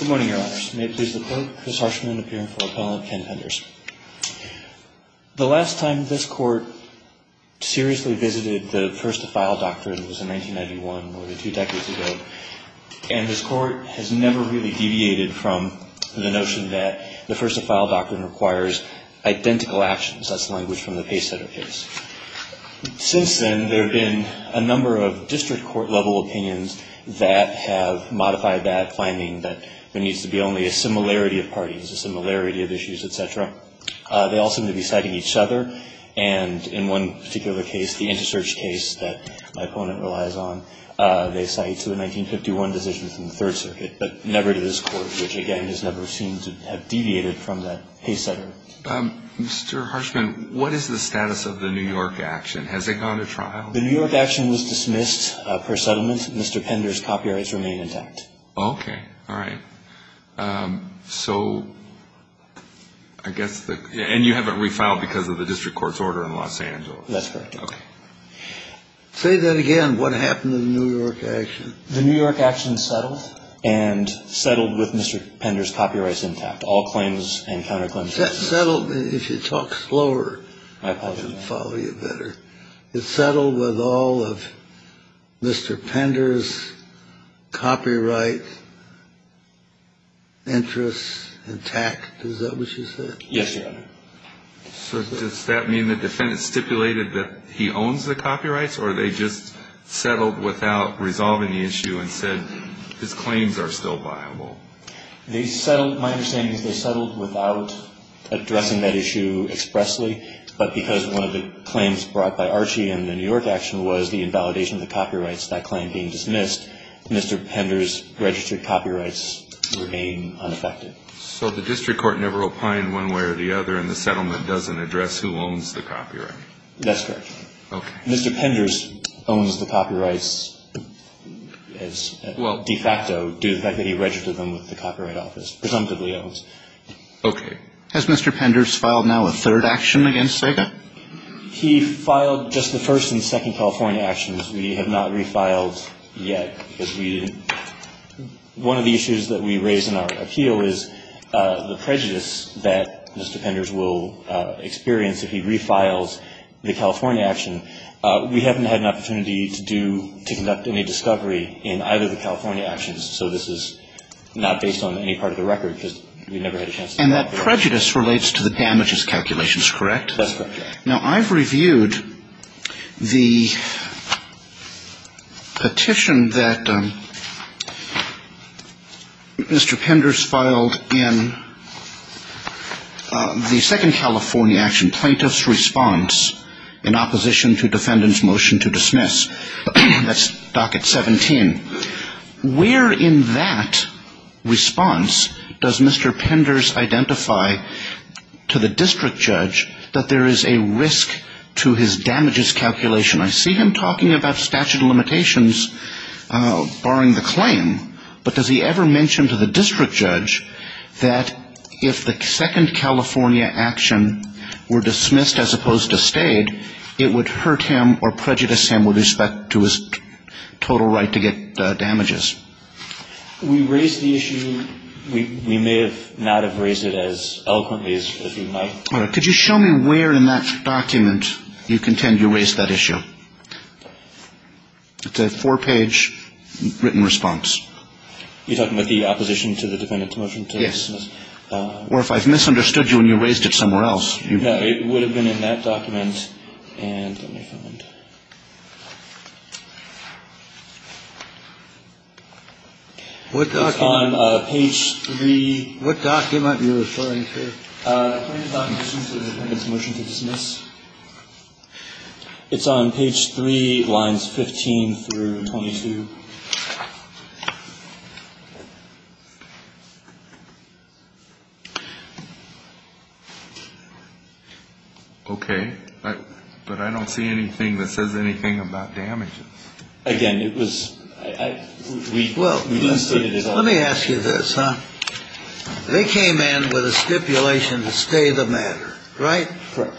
Good morning, Your Honors. May it please the Clerk, Chris Harshman, appearing for Appellant Ken Penders. The last time this Court seriously visited the First to File Doctrine was in 1991, more than two decades ago, and this Court has never really deviated from the notion that the First to File Doctrine requires identical actions. That's the language from the case setter case. Since then, there have been a number of district court-level opinions that have modified that finding that there needs to be only a similarity of parties, a similarity of issues, etc. They all seem to be citing each other, and in one particular case, the inter-search case that my opponent relies on, they cite the 1951 decision from the Third Circuit, but never to this Court, which, again, has never seemed to have deviated from that case setter. Mr. Harshman, what is the status of the New York action? Has it gone to trial? The New York action was dismissed per settlement. Mr. Penders' copyrights remain intact. Okay. All right. So, I guess, and you haven't refiled because of the district court's order in Los Angeles? That's correct. Okay. Say that again. What happened to the New York action? The New York action settled and settled with Mr. Penders' copyrights intact, all claims and counterclaims. Settled. If you talk slower, I can follow you better. It settled with all of Mr. Penders' copyright interests intact, is that what you said? Yes, Your Honor. So, does that mean the defendant stipulated that he owns the copyrights, or they just settled without resolving the issue and said his claims are still viable? They settled, my understanding is they settled without addressing that issue expressly, but because one of the claims brought by Archie in the New York action was the invalidation of the copyrights, that claim being dismissed, Mr. Penders' registered copyrights remain unaffected. So, the district court never opined one way or the other, and the settlement doesn't address who owns the copyright? That's correct. Okay. Mr. Penders owns the copyrights as de facto, due to the fact that he registered them with the Copyright Office. Presumptively owns. Okay. Has Mr. Penders filed now a third action against Sega? He filed just the first and second California actions. We have not refiled yet, because we didn't, one of the issues that we raised in our appeal is the prejudice that Mr. Penders will experience if he refiles the California action. We haven't had an opportunity to do, to conduct any discovery in either of the California actions, so this is not based on any part of the record, because we never had a chance And that prejudice relates to the damages calculations, correct? That's correct, yes. Now, I've reviewed the petition that Mr. Penders filed in the second California action, plaintiff's response in opposition to defendant's motion to dismiss, that's docket 17. Where in that response does Mr. Penders identify to the district judge that there is a risk to his damages calculation? I see him talking about statute of limitations, barring the claim, but does he ever mention to the district judge that if the second California action were dismissed as opposed to stayed, it would hurt him or prejudice him with respect to his total right to get damages? We raised the issue, we may have not have raised it as eloquently as we might. Could you show me where in that document you contend you raised that issue? It's a four page written response. You're talking about the opposition to the defendant's motion to dismiss? Or if I've misunderstood you and you raised it somewhere else? It would have been in that document. And let me find. What document? It's on page three. What document are you referring to? It's on page three of the defendant's motion to dismiss. It's on page three, lines 15 through 22. Okay, but I don't see anything that says anything about damages. Again, it was, I, we, well, let me ask you this, huh? They came in with a stipulation to stay the matter, right? Right.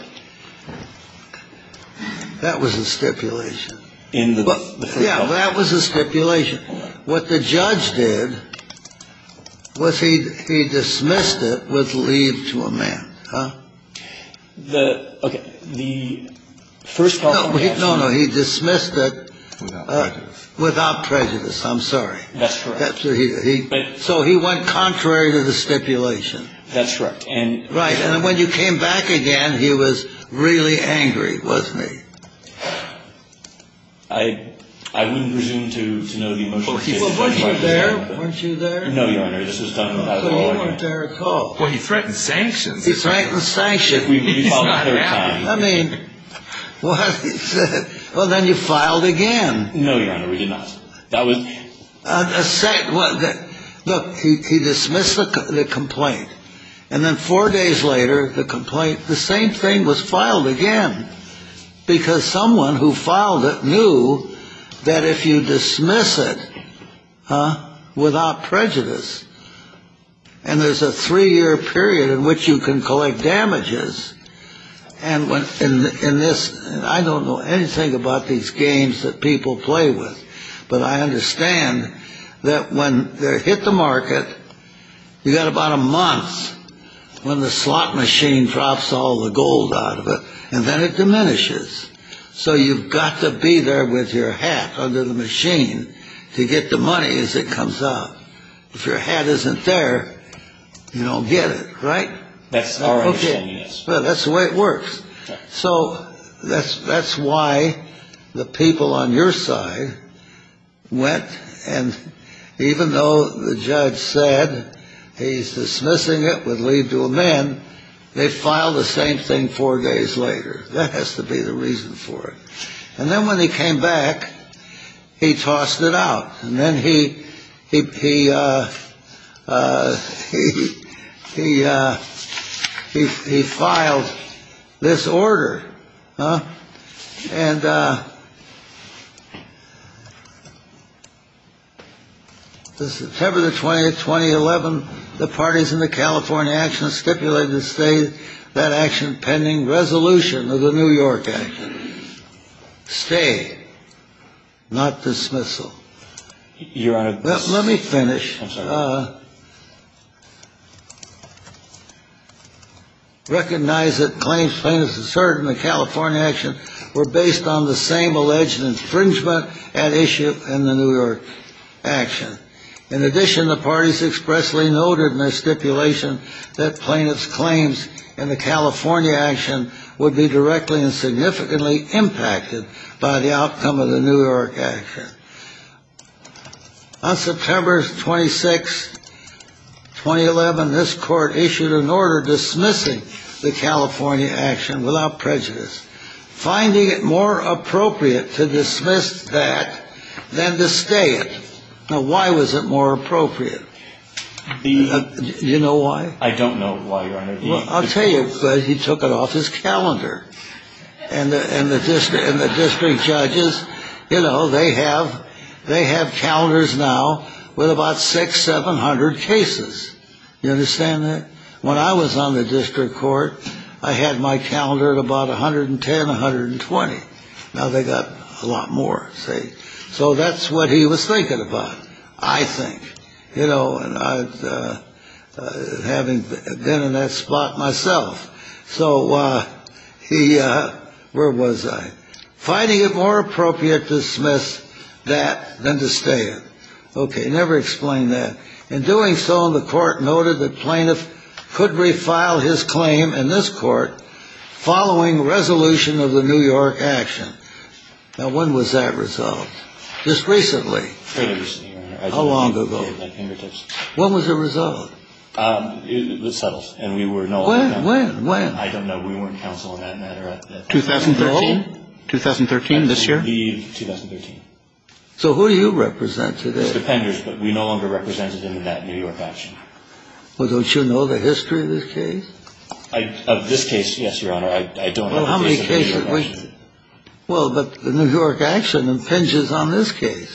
That was a stipulation. In the, yeah, that was a stipulation. What the judge did was he dismissed it with leave to amend, huh? The, okay, the first part of the answer. No, no, he dismissed it without prejudice, I'm sorry. That's correct. So he went contrary to the stipulation. That's correct. Right, and when you came back again, he was really angry with me. I, I wouldn't presume to know the motion. Well, he, well, weren't you there? Weren't you there? No, Your Honor, this was done without an order. Well, you weren't there at all. Well, he threatened sanctions. He threatened sanctions. We filed a third time. I mean, well, then you filed again. No, Your Honor, we did not. That was. A second, look, he dismissed the complaint. And then four days later, the complaint, the same thing was filed again. Because someone who filed it knew that if you dismiss it, huh, without prejudice. And there's a three year period in which you can collect damages. And when, in this, I don't know anything about these games that people play with. But I understand that when they hit the market, you got about a month when the slot machine drops all the gold out of it. And then it diminishes. So you've got to be there with your hat under the machine to get the money as it comes up. If your hat isn't there, you don't get it, right? That's our understanding, yes. Well, that's the way it works. So that's why the people on your side went. And even though the judge said he's dismissing it with leave to amend, they filed the same thing four days later. That has to be the reason for it. And then when he came back, he tossed it out. And then he filed this order. And the September the 20th, 2011, the parties in the California actions stipulated to stay that action pending resolution of the New York Act. Stay, not dismissal. Your Honor, let me finish. Recognize that claims plaintiffs asserted in the California action were based on the same alleged infringement at issue in the New York action. In addition, the parties expressly noted in their stipulation that plaintiffs' claims in the California action would be directly and significantly impacted by the outcome of the New York action. On September 26, 2011, this court issued an order dismissing the California action without prejudice, finding it more appropriate to dismiss that than to stay it. Now, why was it more appropriate? Do you know why? I don't know why, Your Honor. Well, I'll tell you, because he took it off his calendar. And the district judges, you know, they have calendars now with about 600, 700 cases. You understand that? When I was on the district court, I had my calendar at about 110, 120. Now they got a lot more, see? So that's what he was thinking about, I think. You know, and I've been in that spot myself. So he, where was I? Finding it more appropriate to dismiss that than to stay it. Okay, never explained that. In doing so, the court noted the plaintiff could refile his claim in this court following resolution of the New York action. Now, when was that resolved? Just recently. Very recently, Your Honor. How long ago? I just gave my fingertips. When was it resolved? It was settled, and we were no longer. When, when, when? I don't know. We weren't counsel in that matter. 2013? 2013, this year? The 2013. So who do you represent today? It's the Penders, but we no longer represented in that New York action. Well, don't you know the history of this case? Of this case, yes, Your Honor. I don't know the history of the New York action. Well, but the New York action impinges on this case.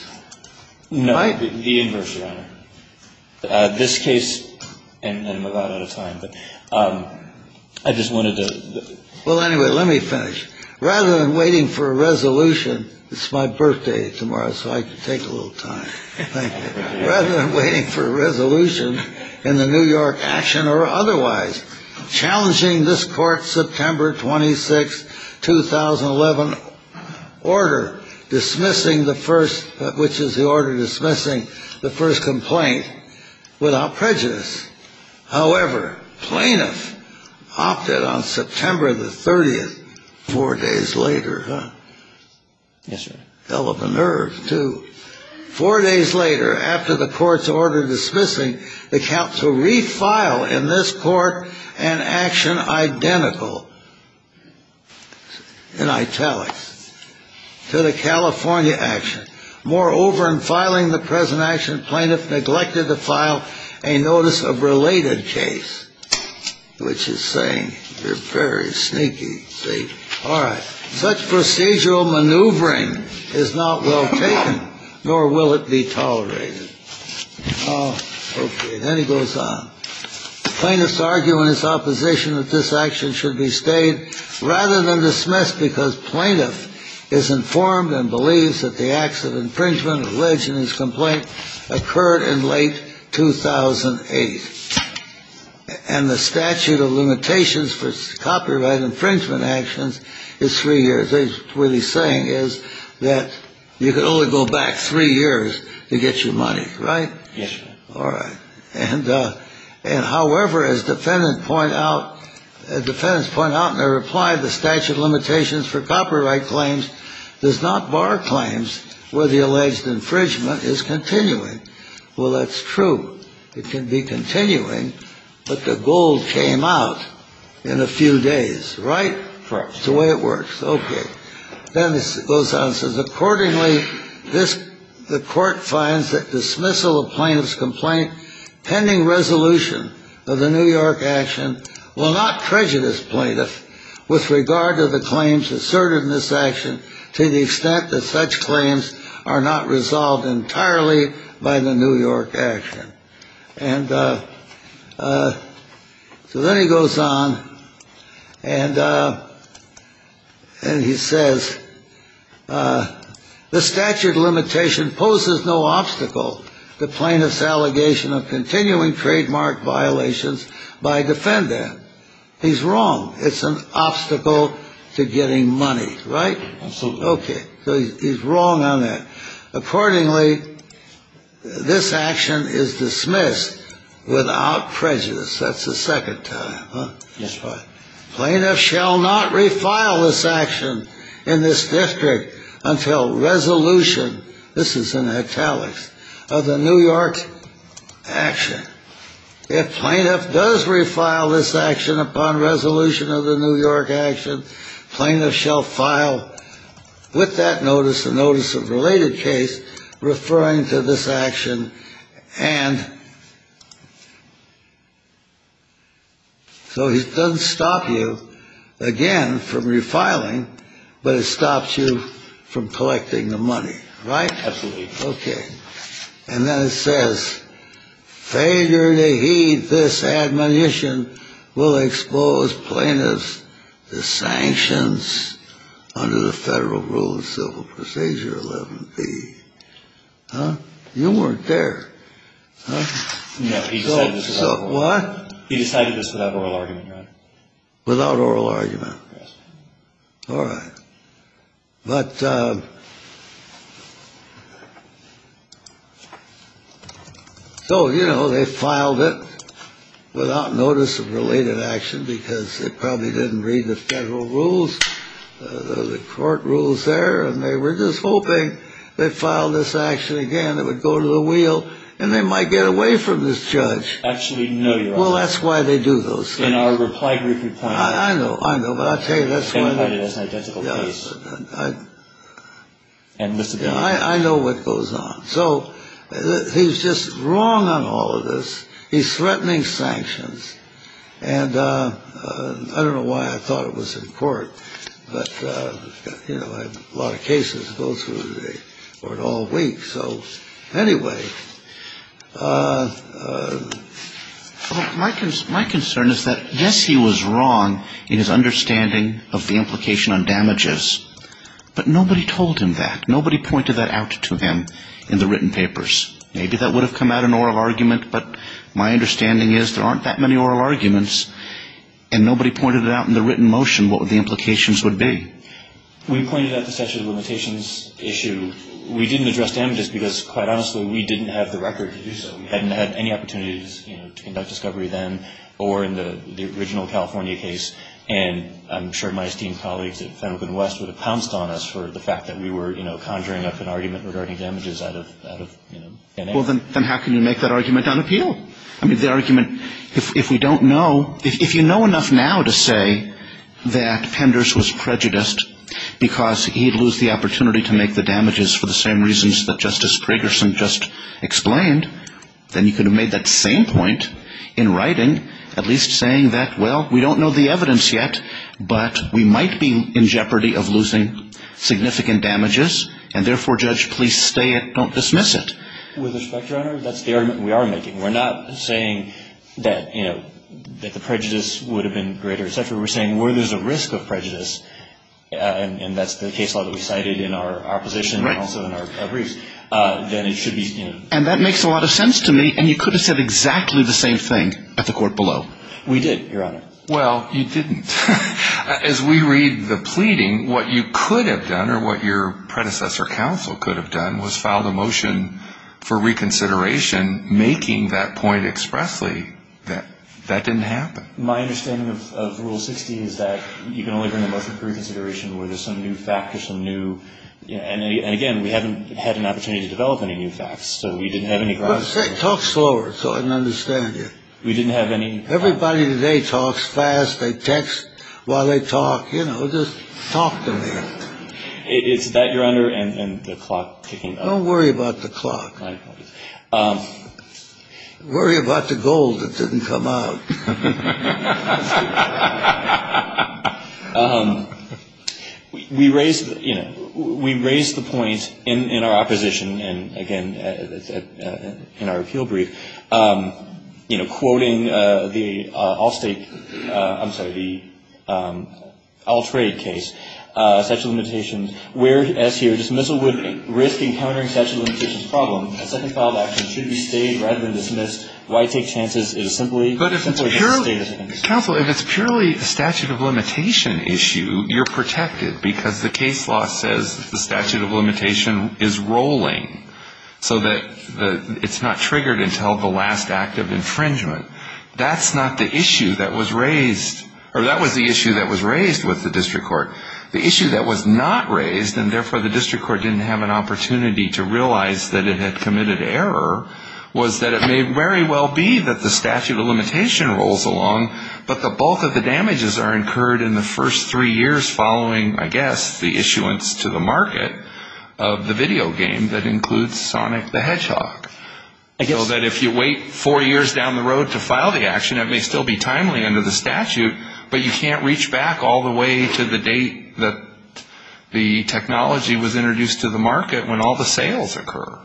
No, the inverse, Your Honor. This case, and I'm a lot out of time, but I just wanted to. Well, anyway, let me finish. Rather than waiting for a resolution, it's my birthday tomorrow, so I can take a little time. Thank you. Rather than waiting for a resolution in the New York action or otherwise, challenging this court's September 26, 2011 order, dismissing the first, which is the order dismissing the first complaint without prejudice. However, plaintiff opted on September the 30th, four days later. Yes, sir. Fell of a nerve, too. Four days later, after the court's order dismissing, the counsel refiled in this court an action identical, in italics, to the California action. Moreover, in filing the present action, plaintiff neglected to file a notice of related case, which is saying they're very sneaky, see? All right. Such procedural maneuvering is not well taken, nor will it be tolerated. Oh, okay. Then he goes on. Plaintiff's arguing his opposition that this action should be stayed rather than dismissed because plaintiff is informed and believes that the acts of infringement alleged in his complaint occurred in late 2008. And the statute of limitations for copyright infringement actions is three years. What he's saying is that you can only go back three years to get your money, right? Yes, sir. All right. And however, as defendants point out in their reply, the statute of limitations for copyright claims does not bar claims where the alleged infringement is continuing. Well, that's true. It can be continuing, but the gold came out in a few days, right? Correct. It's the way it works. Okay. Then he goes on and says, accordingly, the court finds that dismissal plaintiff's complaint, pending resolution of the New York action, will not prejudice plaintiff with regard to the claims asserted in this action to the extent that such claims are not resolved entirely by the New York action. And so then he goes on and he says, the statute of limitation poses no obstacle to plaintiff's allegation of continuing trademark violations by defendant. He's wrong. It's an obstacle to getting money, right? Absolutely. Okay. So he's wrong on that. Accordingly, this action is dismissed without prejudice. That's the second time, huh? Yes, sir. Plaintiff shall not refile this action in this district until resolution, this is in italics, of the New York action. If plaintiff does refile this action upon resolution of the New York action, plaintiff shall file with that notice, a notice of related case, referring to this action. And so it doesn't stop you, again, from refiling, but it stops you from collecting the money, right? Absolutely. Okay. And then it says, failure to heed this admonition will expose plaintiffs to sanctions under the federal rule of civil procedure 11B. Huh? You weren't there, huh? No, he said this without oral argument. What? He decided this without oral argument, right? Without oral argument? Yes. All right. But, so, you know, they filed it without notice of related action because they probably didn't read the federal rules, the court rules there, and they were just hoping they'd file this action again, it would go to the wheel, and they might get away from this judge. Actually, no, you're right. Well, that's why they do those things. In our reply brief, you pointed out. I know, I know, but I'll tell you, that's why they do those things. They find it as an identical case. Yes, I know what goes on. So he's just wrong on all of this. He's threatening sanctions. And I don't know why I thought it was in court, but, you know, I have a lot of cases that go through the court all week. So, anyway, my concern is that, yes, he was wrong in his understanding of the implication on damages, but nobody told him that. Nobody pointed that out to him in the written papers. Maybe that would have come out in oral argument, but my understanding is there aren't that many oral arguments, and nobody pointed it out in the written motion. What would the implications would be? We pointed out the statute of limitations issue. We didn't address damages because, quite honestly, we didn't have the record to do so. We hadn't had any opportunities, you know, to conduct discovery then or in the original California case. And I'm sure my esteemed colleagues at Federal and West would have pounced on us for the fact that we were, you know, conjuring up an argument regarding damages out of, you know, DNA. Well, then how can you make that argument unappeal? I mean, the argument, if we don't know, if you know enough now to say that Penders was prejudiced because he'd lose the opportunity to make the damages for the same reasons that Justice Pragerson just explained, then you could have made that same point in writing, at least saying that, well, we don't know the evidence yet, but we might be in jeopardy of losing significant damages, and therefore, Judge, please stay and don't dismiss it. With respect, Your Honor, that's the argument we are making. We're not saying that, you know, that the prejudice would have been greater, et cetera. We're saying where there's a risk of prejudice, and that's the case law that we cited in our position and also in our briefs, then it should be, you know. And that makes a lot of sense to me, and you could have said exactly the same thing at the court below. We did, Your Honor. Well, you didn't. As we read the pleading, what you could have done or what your predecessor counsel could have done was filed a motion for reconsideration making that point expressly that that didn't happen. My understanding of Rule 60 is that you can only bring a motion for reconsideration where there's some new fact or some new, you know, and again, we haven't had an opportunity to develop any new facts, so we didn't have any grounds to do that. Talk slower so I can understand you. We didn't have any. Everybody today talks fast. They text while they talk. You know, just talk to me. It's that, Your Honor, and the clock ticking. Don't worry about the clock. Worry about the gold that didn't come out. We raised, you know, we raised the point in our opposition, and again, in our appeal brief, you know, quoting the All-State, I'm sorry, the All-Trade case, statute of limitations, where, as here, dismissal would risk encountering statute of limitations problem. A second file of action should be stayed rather than dismissed. Why take chances is simply. But if it's purely, counsel, if it's purely a statute of limitation issue, you're protected because the case law says the statute of limitation is rolling so that it's not triggered until the last act of infringement. That's not the issue that was raised, or that was the issue that was raised with the district court. The issue that was not raised, and therefore the district court didn't have an opportunity to realize that it had committed error, was that it may very well be that the statute of limitation rolls along, but the bulk of the damages are incurred in the first three years following, I guess, the issuance to the market of the video game that includes Sonic the Hedgehog. So that if you wait four years down the road to file the action, it may still be timely under the statute, but you can't reach back all the way to the date that the technology was introduced to the market when all the sales occur.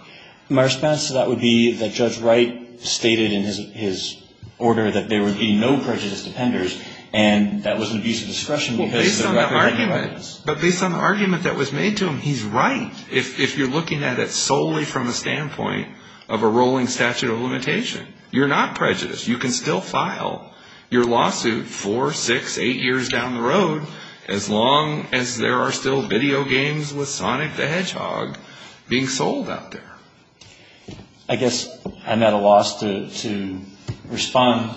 My response to that would be that Judge Wright stated in his order that there would be no prejudice to penders, and that was an abuse of discretion because of the record of records. But based on the argument that was made to him, he's right. If you're looking at it solely from the standpoint of a rolling statute of limitation, you're not prejudiced. You can still file your lawsuit four, six, eight years down the road as long as there are still video games with Sonic the Hedgehog being sold out there. I guess I'm at a loss to respond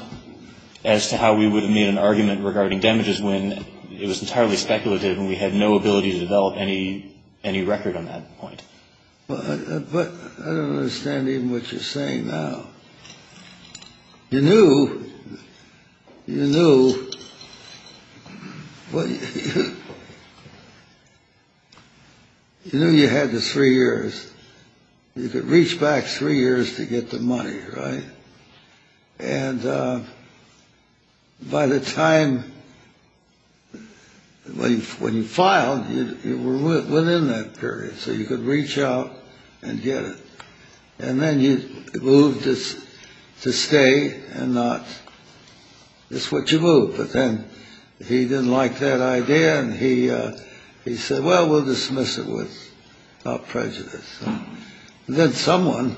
as to how we would have made an argument regarding damages when it was entirely speculative and we had no ability to develop any record on that point. But I don't understand even what you're saying now. You knew, you knew, you knew you had the three years. You could reach back three years to get the money, right? And by the time, when you filed, you were within that period, so you could reach out and get it. And then you moved to stay and not, that's what you moved. But then he didn't like that idea, and he said, well, we'll dismiss it without prejudice. And then someone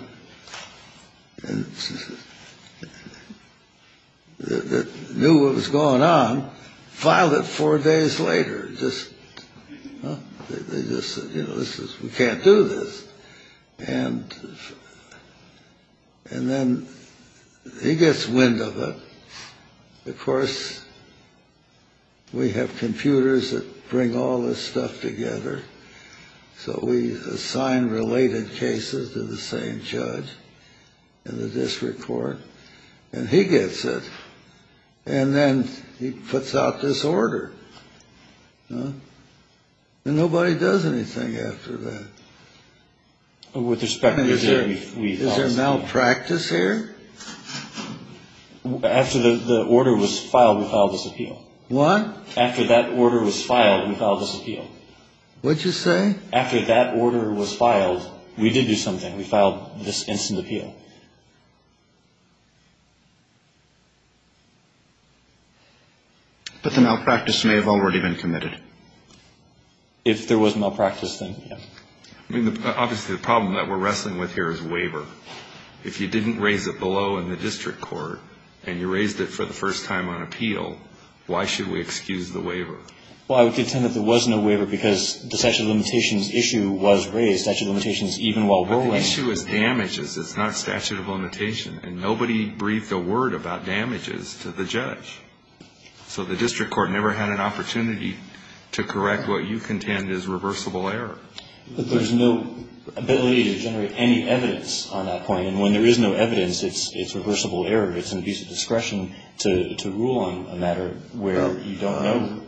that knew what was going on filed it four days later. Just, they just said, you know, this is, we can't do this. And then he gets wind of it. Of course, we have computers that bring all this stuff together. So we assign related cases to the same judge in the district court, and he gets it. And then he puts out this order. And nobody does anything after that. With respect, is there malpractice here? After the order was filed, we filed this appeal. What? After that order was filed, we filed this appeal. What'd you say? After that order was filed, we did do something. We filed this instant appeal. But the malpractice may have already been committed. If there was malpractice, then yes. I mean, obviously, the problem that we're wrestling with here is waiver. If you didn't raise it below in the district court, and you raised it for the first time on appeal, why should we excuse the waiver? Well, I would contend that there was no waiver, because the statute of limitations issue was raised. Statute of limitations, even while we're wrestling. But the issue is damages. It's not a statute of limitation. And nobody briefed a word about damages to the judge. So the district court never had an opportunity to correct what you contend is reversible error. But there's no ability to generate any evidence on that point. And when there is no evidence, it's reversible error. It's an abuse of discretion to rule on a matter where you don't know.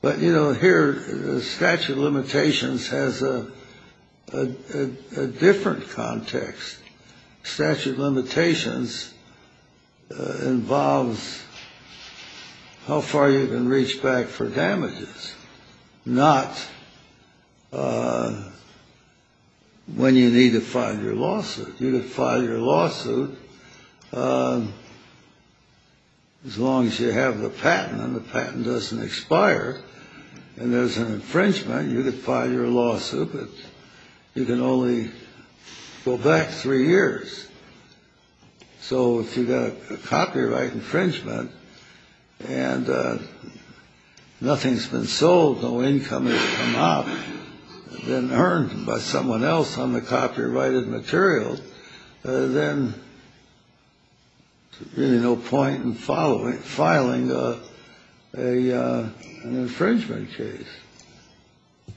But, you know, here, statute of limitations has a different context. Statute of limitations involves how far you can reach back for damages, not when you need to file your lawsuit. You could file your lawsuit as long as you have the patent, and the patent doesn't expire. And there's an infringement. You could file your lawsuit, but you can only go back three years. So if you've got a copyright infringement and nothing's been sold, no income has come out, then earned by someone else on the copyrighted material, then there's really no point in filing an infringement case.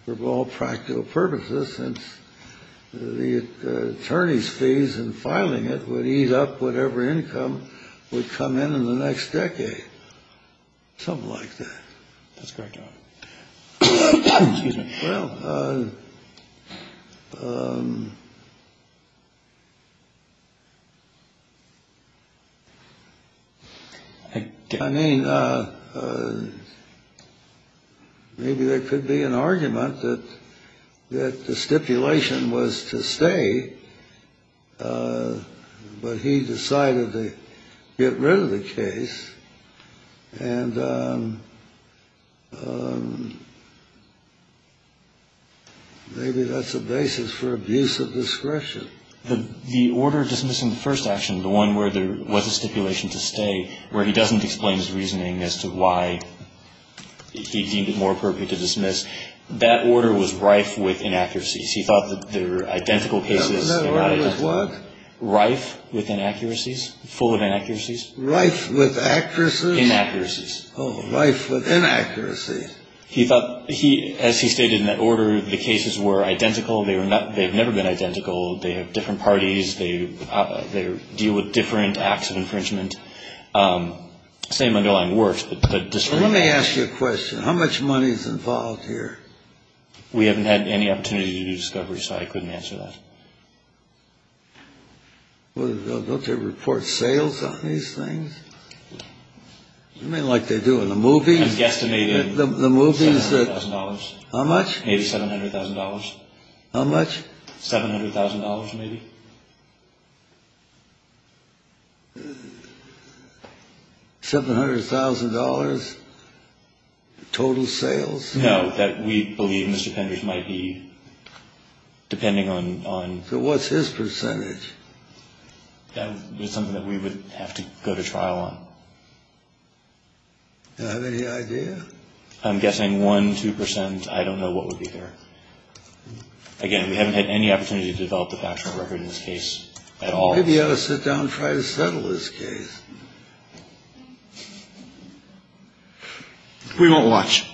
For all practical purposes, since the attorney's fees in filing it would eat up whatever income would come in in the next decade, something like that. That's correct. I mean, maybe there could be an argument that the stipulation was to stay, but he decided to get rid of the case. And maybe that's a basis for abuse of discretion. The order dismissing the first action, the one where there was a stipulation to stay, where he doesn't explain his reasoning as to why he deemed it more appropriate to dismiss, that order was rife with inaccuracies. He thought that they were identical cases. That order was what? Rife with inaccuracies, full of inaccuracies. Rife with accuracies? Inaccuracies. Oh, rife with inaccuracies. He thought, as he stated in that order, the cases were identical. They've never been identical. They have different parties. They deal with different acts of infringement. Same underlying works, but different. Let me ask you a question. How much money is involved here? We haven't had any opportunity to do discovery, so I couldn't answer that. Don't they report sales on these things? I mean, like they do in the movies? I'm guesstimating $700,000. How much? Maybe $700,000. How much? $700,000, maybe. $700,000 total sales? No, that we believe Mr. Penders might be depending on. So what's his percentage? That is something that we would have to go to trial on. Do you have any idea? I'm guessing 1%, 2%. I don't know what would be there. Again, we haven't had any opportunity to develop the factual record in this case at all. Maybe you ought to sit down and try to settle this case. We won't watch.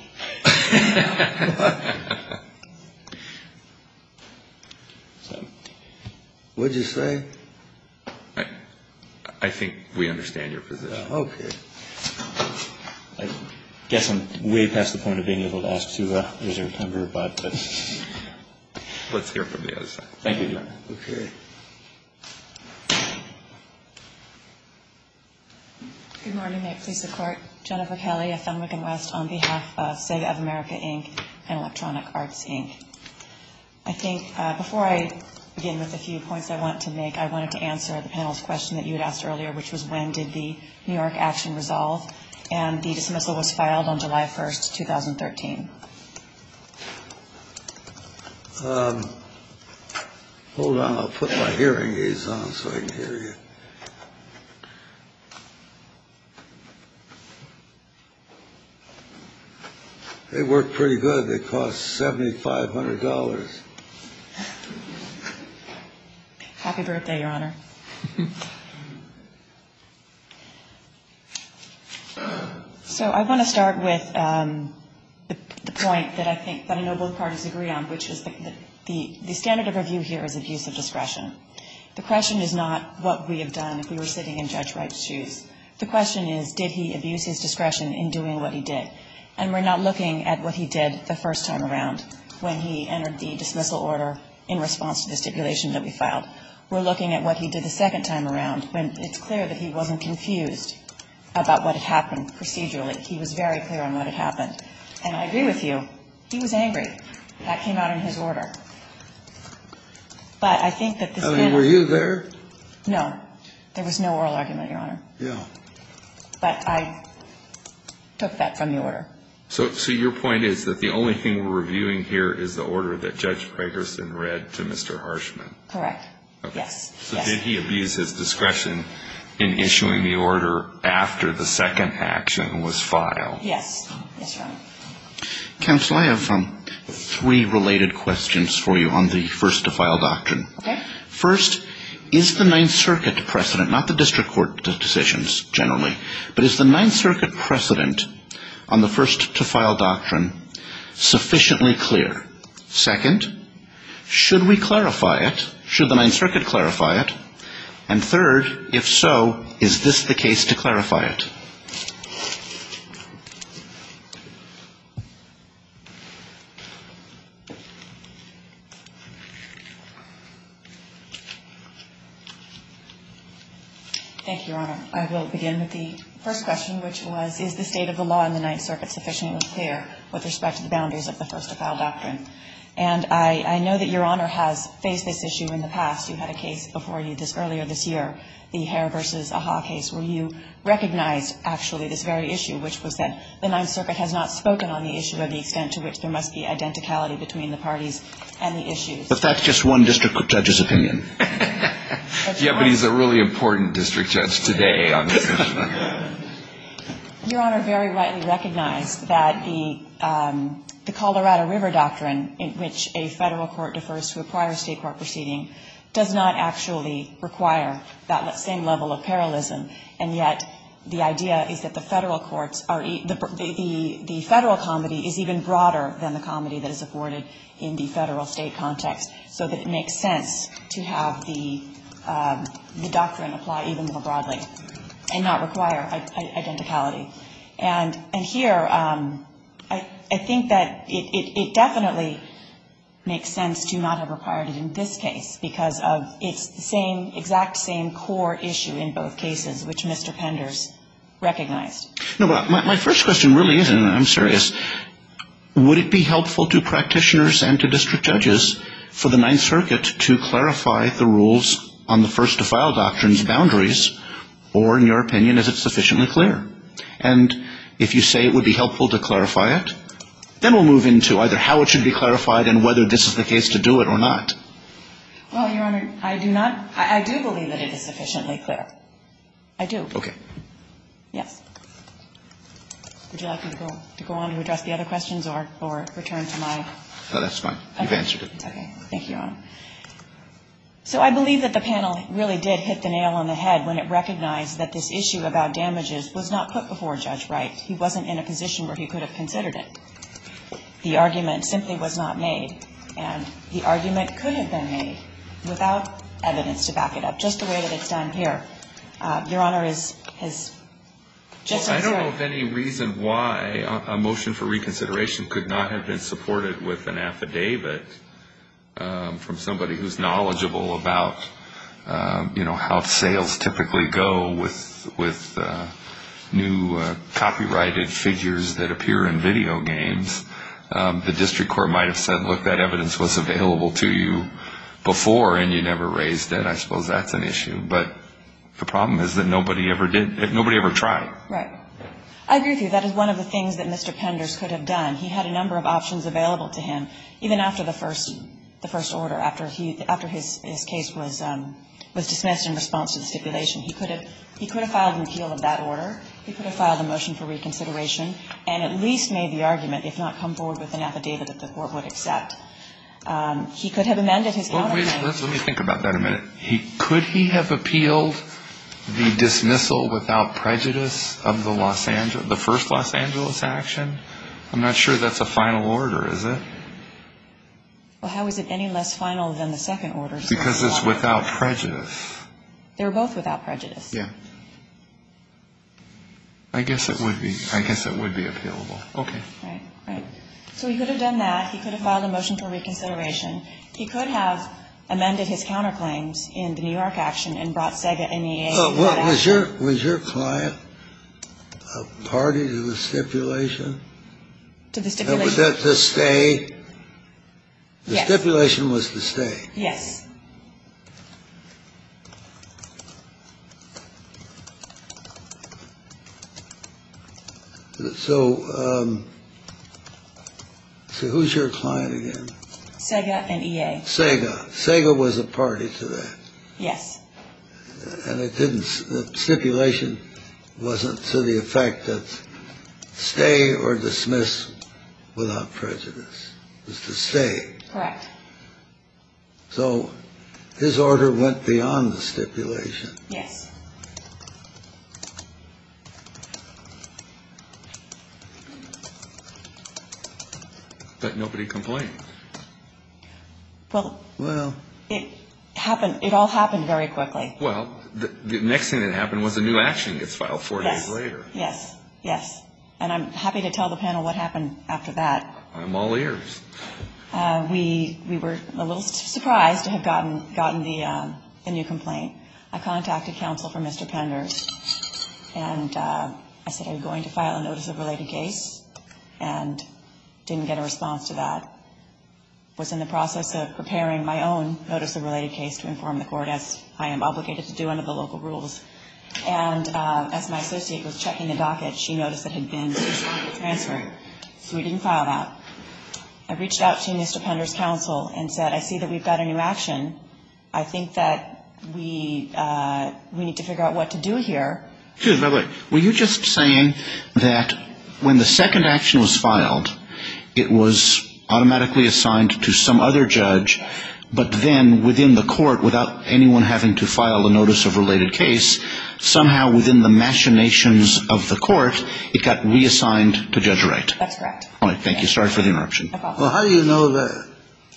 What did you say? I think we understand your position. Okay. I guess I'm way past the point of being able to ask to reserve timber, but let's hear from the other side. Thank you. Okay. Good morning. May it please the Court. Jennifer Kelly of Fenwick and West on behalf of Sega of America, Inc. and Electronic Arts, Inc. I think before I begin with a few points I want to make, I wanted to answer the panel's question that you had asked earlier, which was when did the New York action resolve? And the dismissal was filed on July 1st, 2013. Hold on. I'll put my hearing aids on so I can hear you. They work pretty good. They cost $7,500. Happy birthday, Your Honor. So I want to start with the point that I think, that I know both parties agree on, which is the standard of review here is abuse of discretion. The question is not what we have done if we were sitting in Judge Wright's shoes. The question is did he abuse his discretion in doing what he did. And we're not looking at what he did the first time around when he entered the dismissal order in response to the stipulation that we filed. We're looking at what he did the second time around when it's clear that he wasn't confused about what had happened procedurally. He was very clear on what had happened. And I agree with you. He was angry. That came out in his order. But I think that this is... Were you there? No. There was no oral argument, Your Honor. Yeah. But I took that from the order. So your point is that the only thing we're reviewing here is the order that Judge Fragerson read to Mr. Harshman. Correct. Yes. So did he abuse his discretion in issuing the order after the second action was filed? Yes. Yes, Your Honor. Counsel, I have three related questions for you on the first-to-file doctrine. Okay. First, is the Ninth Circuit precedent, not the district court decisions generally, but is the Ninth Circuit precedent on the first-to-file doctrine sufficiently clear? Second, should we clarify it? Should the Ninth Circuit clarify it? And third, if so, is this the case to clarify it? Thank you, Your Honor. I will begin with the first question, which was, is the state of the law in the Ninth Circuit sufficiently clear with respect to the boundaries of the first-to-file doctrine? And I know that Your Honor has faced this issue in the past. You had a case before you earlier this year, the Hare v. Ahaw case, where you recognized, actually, this very issue, which was that the Ninth Circuit has not spoken on the issue of the extent to which there must be identicality between the parties and the issues. But that's just one district judge's opinion. Yeah, but he's a really important district judge today on this issue. Your Honor very rightly recognized that the Colorado River doctrine, in which a Federal court defers to a prior State court proceeding, does not actually require that same level of parallelism, and yet the idea is that the Federal courts are the Federal comedy is even broader than the comedy that is afforded in the Federal-State context, so that it makes sense to have the doctrine apply even more broadly and not require identicality. And here, I think that it definitely makes sense to not have required it in this case, because it's the same, exact same core issue in both cases, which Mr. Penders recognized. No, but my first question really is, and I'm serious, would it be helpful to practitioners and to district judges for the Ninth Circuit to clarify the rules on the first-to-file doctrines boundaries, or in your opinion, is it sufficiently clear? And if you say it would be helpful to clarify it, then we'll move into either how it should be clarified and whether this is the case to do it or not. Well, Your Honor, I do not – I do believe that it is sufficiently clear. I do. Okay. Yes. Would you like me to go on to address the other questions or return to my – No, that's fine. You've answered it. Okay. Thank you, Your Honor. So I believe that the panel really did hit the nail on the head when it recognized that this issue about damages was not put before Judge Wright. He wasn't in a position where he could have considered it. The argument simply was not made. And the argument could have been made without evidence to back it up, just the way that it's done here. Your Honor, is – I don't know of any reason why a motion for reconsideration could not have been supported with an affidavit from somebody who's knowledgeable about, you know, how sales typically go with new copyrighted figures that appear in video games. The district court might have said, look, that evidence was available to you before and you never raised it. I suppose that's an issue. But the problem is that nobody ever did – nobody ever tried. Right. I agree with you. That is one of the things that Mr. Penders could have done. He had a number of options available to him, even after the first – the first order, after his case was dismissed in response to the stipulation. He could have filed an appeal of that order. He could have filed a motion for reconsideration and at least made the argument, if not come forward with an affidavit that the court would accept. He could have amended his copyright. Let me think about that a minute. Could he have appealed the dismissal without prejudice of the first Los Angeles action? I'm not sure that's a final order, is it? Well, how is it any less final than the second order? Because it's without prejudice. They were both without prejudice. Yeah. I guess it would be. I guess it would be appealable. Okay. Right. Right. So he could have done that. He could have filed a motion for reconsideration. He could have amended his counterclaims in the New York action and brought Sega and EAC. Was your client a party to the stipulation? To the stipulation. Was that the stay? Yes. The stipulation was the stay. Yes. So who's your client again? Sega and EA. Sega. Sega was a party to that. Yes. And it didn't stipulation wasn't to the effect of stay or dismiss without prejudice. It was to stay. Correct. So his order went beyond the stipulation. Yes. But nobody complained. Well, it happened. It all happened very quickly. Well, the next thing that happened was the new action gets filed four days later. Yes. Yes. And I'm happy to tell the panel what happened after that. I'm all ears. We were a little surprised to have gotten the new complaint. I contacted counsel for Mr. Pender and I said I was going to file a notice of related case and didn't get a response to that. Was in the process of preparing my own notice of related case to inform the court as I am obligated to do under the local rules. And as my associate was checking the docket, she noticed it had been transferred. So we didn't file that. I reached out to Mr. Pender's counsel and said, I see that we've got a new action. I think that we need to figure out what to do here. Excuse me. Were you just saying that when the second action was filed, it was automatically assigned to some other judge, but then within the court, without anyone having to file a notice of related case, somehow within the machinations of the court, it got reassigned to Judge Wright? That's correct. All right. Thank you. Sorry for the interruption. No problem. How do you know that?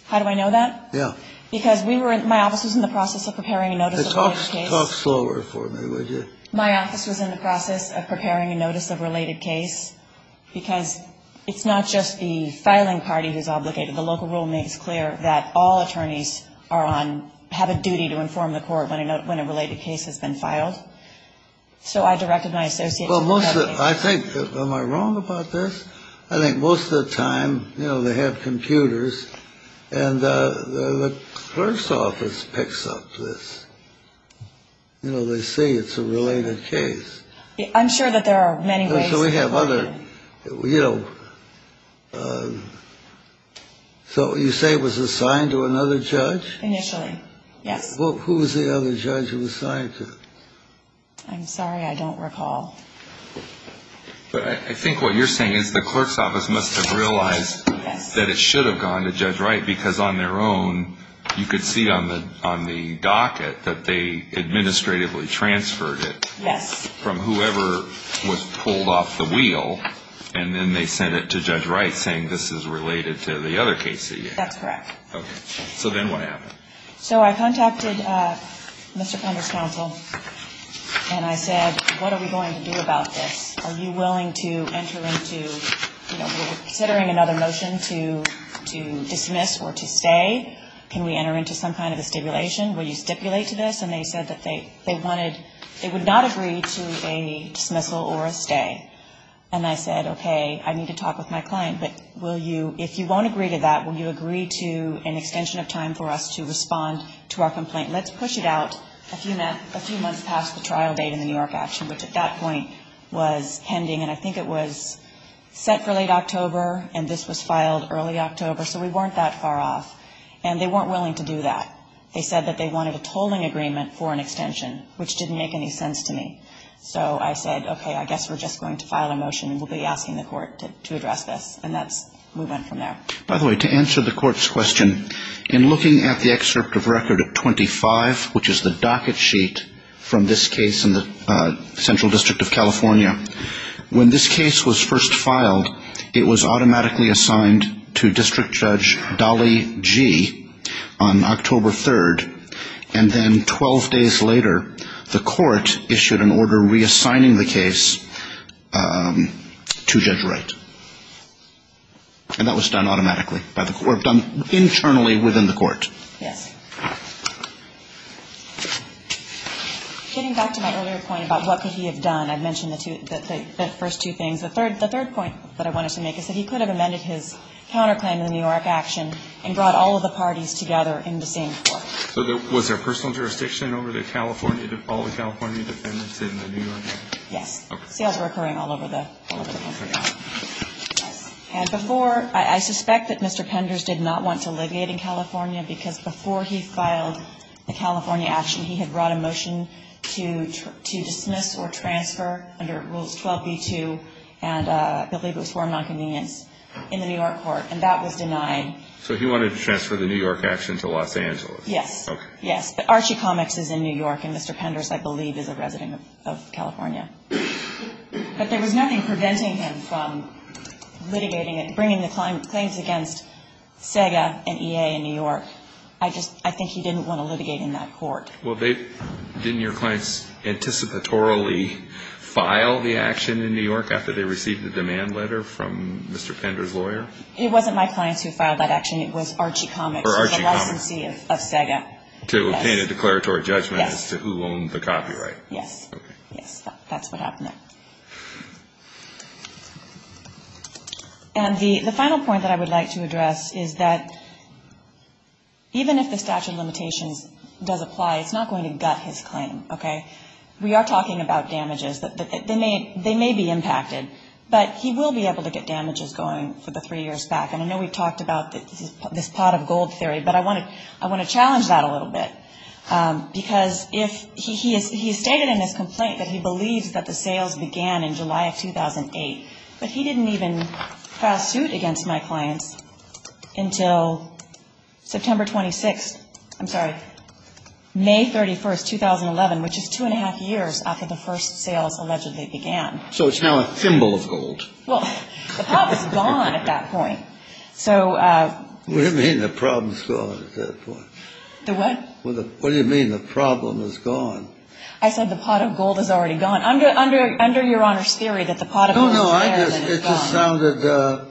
How do I know that? Yeah. Because my office was in the process of preparing a notice of related case. Talk slower for me, would you? My office was in the process of preparing a notice of related case. Because it's not just the filing party who's obligated. The local rule makes clear that all attorneys are on, have a duty to inform the court when a related case has been filed. So I directed my associate. I think, am I wrong about this? I think most of the time, you know, they have computers, and the clerk's office picks up this. You know, they say it's a related case. I'm sure that there are many ways. So we have other, you know, so you say it was assigned to another judge? Initially, yes. Well, who was the other judge it was assigned to? I'm sorry, I don't recall. But I think what you're saying is the clerk's office must have realized that it should have gone to Judge Wright because on their own, you could see on the docket that they administratively transferred it. Yes. From whoever was pulled off the wheel, and then they sent it to Judge Wright saying this is related to the other case. That's correct. Okay. So then what happened? So I contacted Mr. Pender's counsel, and I said, what are we going to do about this? Are you willing to enter into, you know, we're considering another motion to dismiss or to stay. Can we enter into some kind of a stipulation? Will you stipulate to this? And they said that they wanted, they would not agree to a dismissal or a stay. And I said, okay, I need to talk with my client, but will you, if you won't agree to that, will you agree to an extension of time for us to respond to our complaint? Let's push it out a few months past the trial date in the New York action, which at that point was pending. And I think it was set for late October, and this was filed early October, so we weren't that far off. And they weren't willing to do that. They said that they wanted a tolling agreement for an extension, which didn't make any sense to me. So I said, okay, I guess we're just going to file a motion, and we'll be asking the court to address this. And that's, we went from there. By the way, to answer the court's question, in looking at the excerpt of Record 25, which is the docket sheet from this case in the Central District of California, when this case was first filed, it was automatically assigned to District Judge Dolly Gee on October 3rd. And then 12 days later, the court issued an order reassigning the case to Judge Wright. And that was done automatically, or done internally within the court. Yes. Getting back to my earlier point about what could he have done, I mentioned the first two things. The third point that I wanted to make is that he could have amended his counterclaim in the New York action and brought all of the parties together in the same court. So was there personal jurisdiction over all the California defendants in the New York case? Yes. Sales were occurring all over the country. And before, I suspect that Mr. Penders did not want to alleviate in California because before he filed the California action, he had brought a motion to dismiss or transfer under Rules 12b-2, and I believe it was for a nonconvenience, in the New York court. And that was denied. So he wanted to transfer the New York action to Los Angeles? Yes. Okay. Yes. But Archie Comics is in New York, and Mr. Penders, I believe, is a resident of California. But there was nothing preventing him from litigating it, bringing the claims against SEGA and EA in New York. I just think he didn't want to litigate in that court. Well, didn't your clients anticipatorily file the action in New York after they received the demand letter from Mr. Penders' lawyer? It wasn't my clients who filed that action. It was Archie Comics. Or Archie Comics. The licensee of SEGA. To obtain a declaratory judgment as to who owned the copyright. Yes. Okay. Yes. That's what happened there. And the final point that I would like to address is that even if the statute of limitations does apply, it's not going to gut his claim, okay? We are talking about damages. They may be impacted, but he will be able to get damages going for the three years back. And I know we've talked about this pot of gold theory, but I want to challenge that a little bit. Because if he has stated in his complaint that he believes that the sales began in July of 2008, but he didn't even pass suit against my clients until September 26th. I'm sorry. May 31st, 2011, which is two and a half years after the first sales allegedly began. So it's now a thimble of gold. Well, the pot was gone at that point. What do you mean the problem is gone at that point? The what? What do you mean the problem is gone? I said the pot of gold is already gone. Under your Honor's theory that the pot of gold is there. No, no. It just sounded,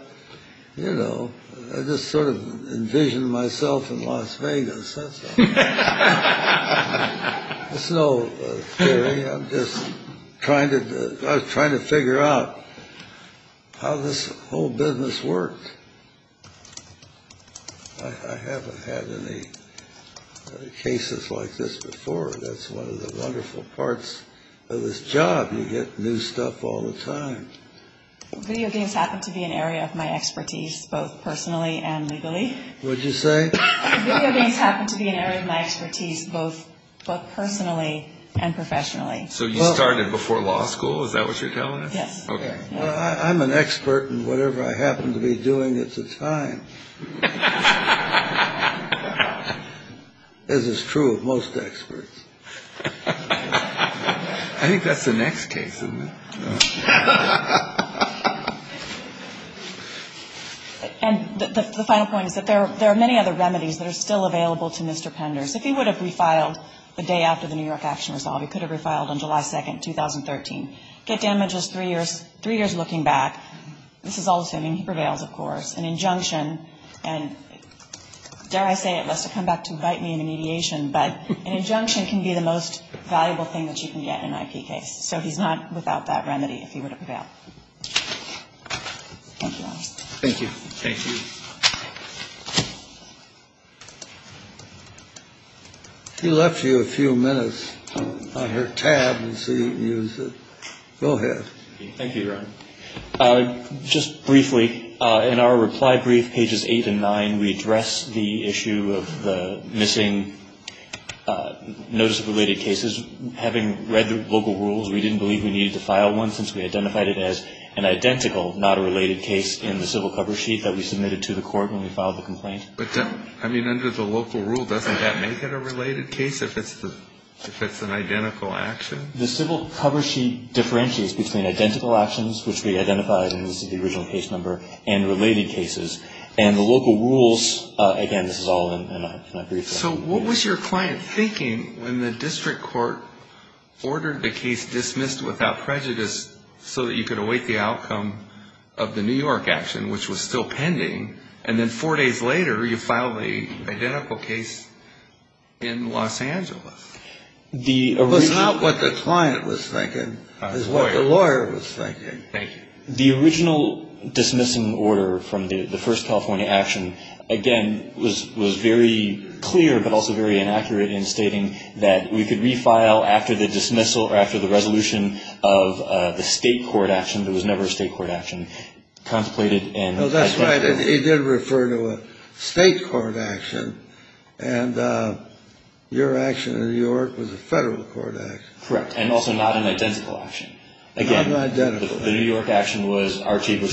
you know, I just sort of envisioned myself in Las Vegas. That's all. It's no theory. I'm just trying to figure out how this whole business works. I haven't had any cases like this before. That's one of the wonderful parts of this job. You get new stuff all the time. Video games happen to be an area of my expertise both personally and legally. What did you say? Video games happen to be an area of my expertise both personally and professionally. So you started before law school? Is that what you're telling us? Yes. Well, I'm an expert in whatever I happen to be doing at the time. As is true of most experts. I think that's the next case. And the final point is that there are many other remedies that are still available to Mr. Penders. If he would have refiled the day after the New York action was solved, he could have refiled on July 2nd, 2013. Get damages three years looking back. This is all the same. He prevails, of course. An injunction, and dare I say it, lest it come back to bite me in the mediation, but an injunction can be the most valuable thing that you can get in an IP case. So he's not without that remedy if he were to prevail. Thank you. Thank you. Thank you. He left you a few minutes on her tab. Go ahead. Thank you, Your Honor. Just briefly, in our reply brief, pages eight and nine, we address the issue of the missing notice of related cases. Having read the local rules, we didn't believe we needed to file one since we identified it as an identical, not a related case in the civil cover sheet that we submitted to the court when we filed the complaint. I mean, under the local rule, doesn't that make it a related case if it's an identical action? The civil cover sheet differentiates between identical actions, which we identified in the original case number, and related cases. And the local rules, again, this is all in my brief. So what was your client thinking when the district court ordered the case dismissed without prejudice so that you could await the outcome of the New York action, which was still pending, and then four days later you filed an identical case in Los Angeles? It was not what the client was thinking. It was what the lawyer was thinking. Thank you. The original dismissing order from the first California action, again, was very clear, but also very inaccurate in stating that we could refile after the dismissal or after the resolution of the state court action. There was never a state court action contemplated. No, that's right. It did refer to a state court action, and your action in New York was a federal court action. Correct, and also not an identical action. Again, the New York action was Archie v.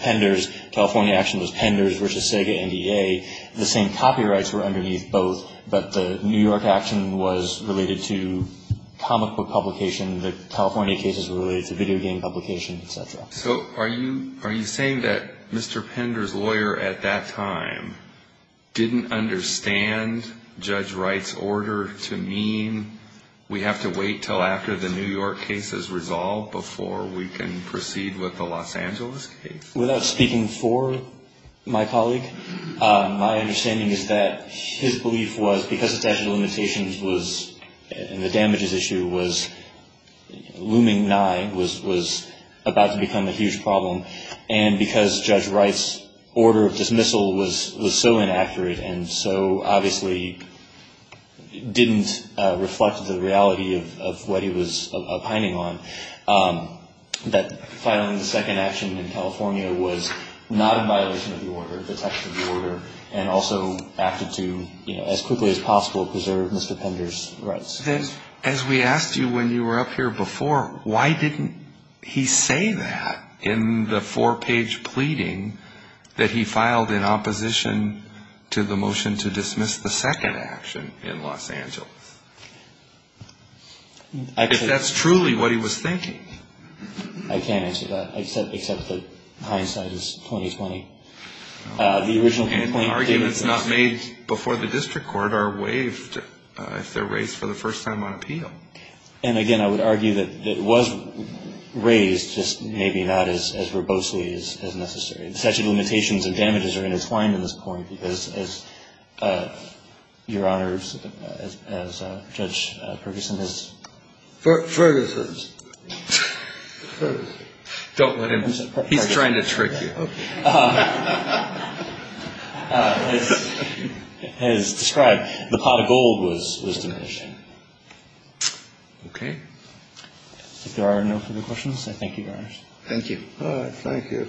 Penders. The California action was Penders v. Sega NDA. The same copyrights were underneath both, but the New York action was related to comic book publication. The California cases were related to video game publication, et cetera. So are you saying that Mr. Penders' lawyer at that time didn't understand Judge Wright's order to mean we have to wait until after the New York case is resolved before we can proceed with the Los Angeles case? Without speaking for my colleague, my understanding is that his belief was, because the statute of limitations and the damages issue was looming nigh, was about to become a huge problem, and because Judge Wright's order of dismissal was so inaccurate and so obviously didn't reflect the reality of what he was opining on, that filing the second action in California was not in violation of the order, the text of the order, and also acted to, as quickly as possible, preserve Mr. Penders' rights. As we asked you when you were up here before, why didn't he say that in the four-page pleading that he filed in opposition to the motion to dismiss the second action in Los Angeles? If that's truly what he was thinking. I can't answer that, except that hindsight is 20-20. And arguments not made before the district court are waived if they're raised for the first time on appeal. And, again, I would argue that it was raised, just maybe not as verbosely as necessary. The statute of limitations and damages are intertwined at this point because, Your Honors, as Judge Ferguson has described, the pot of gold was diminished. Okay. If there are no further questions, I thank you, Your Honors. Thank you. Thank you.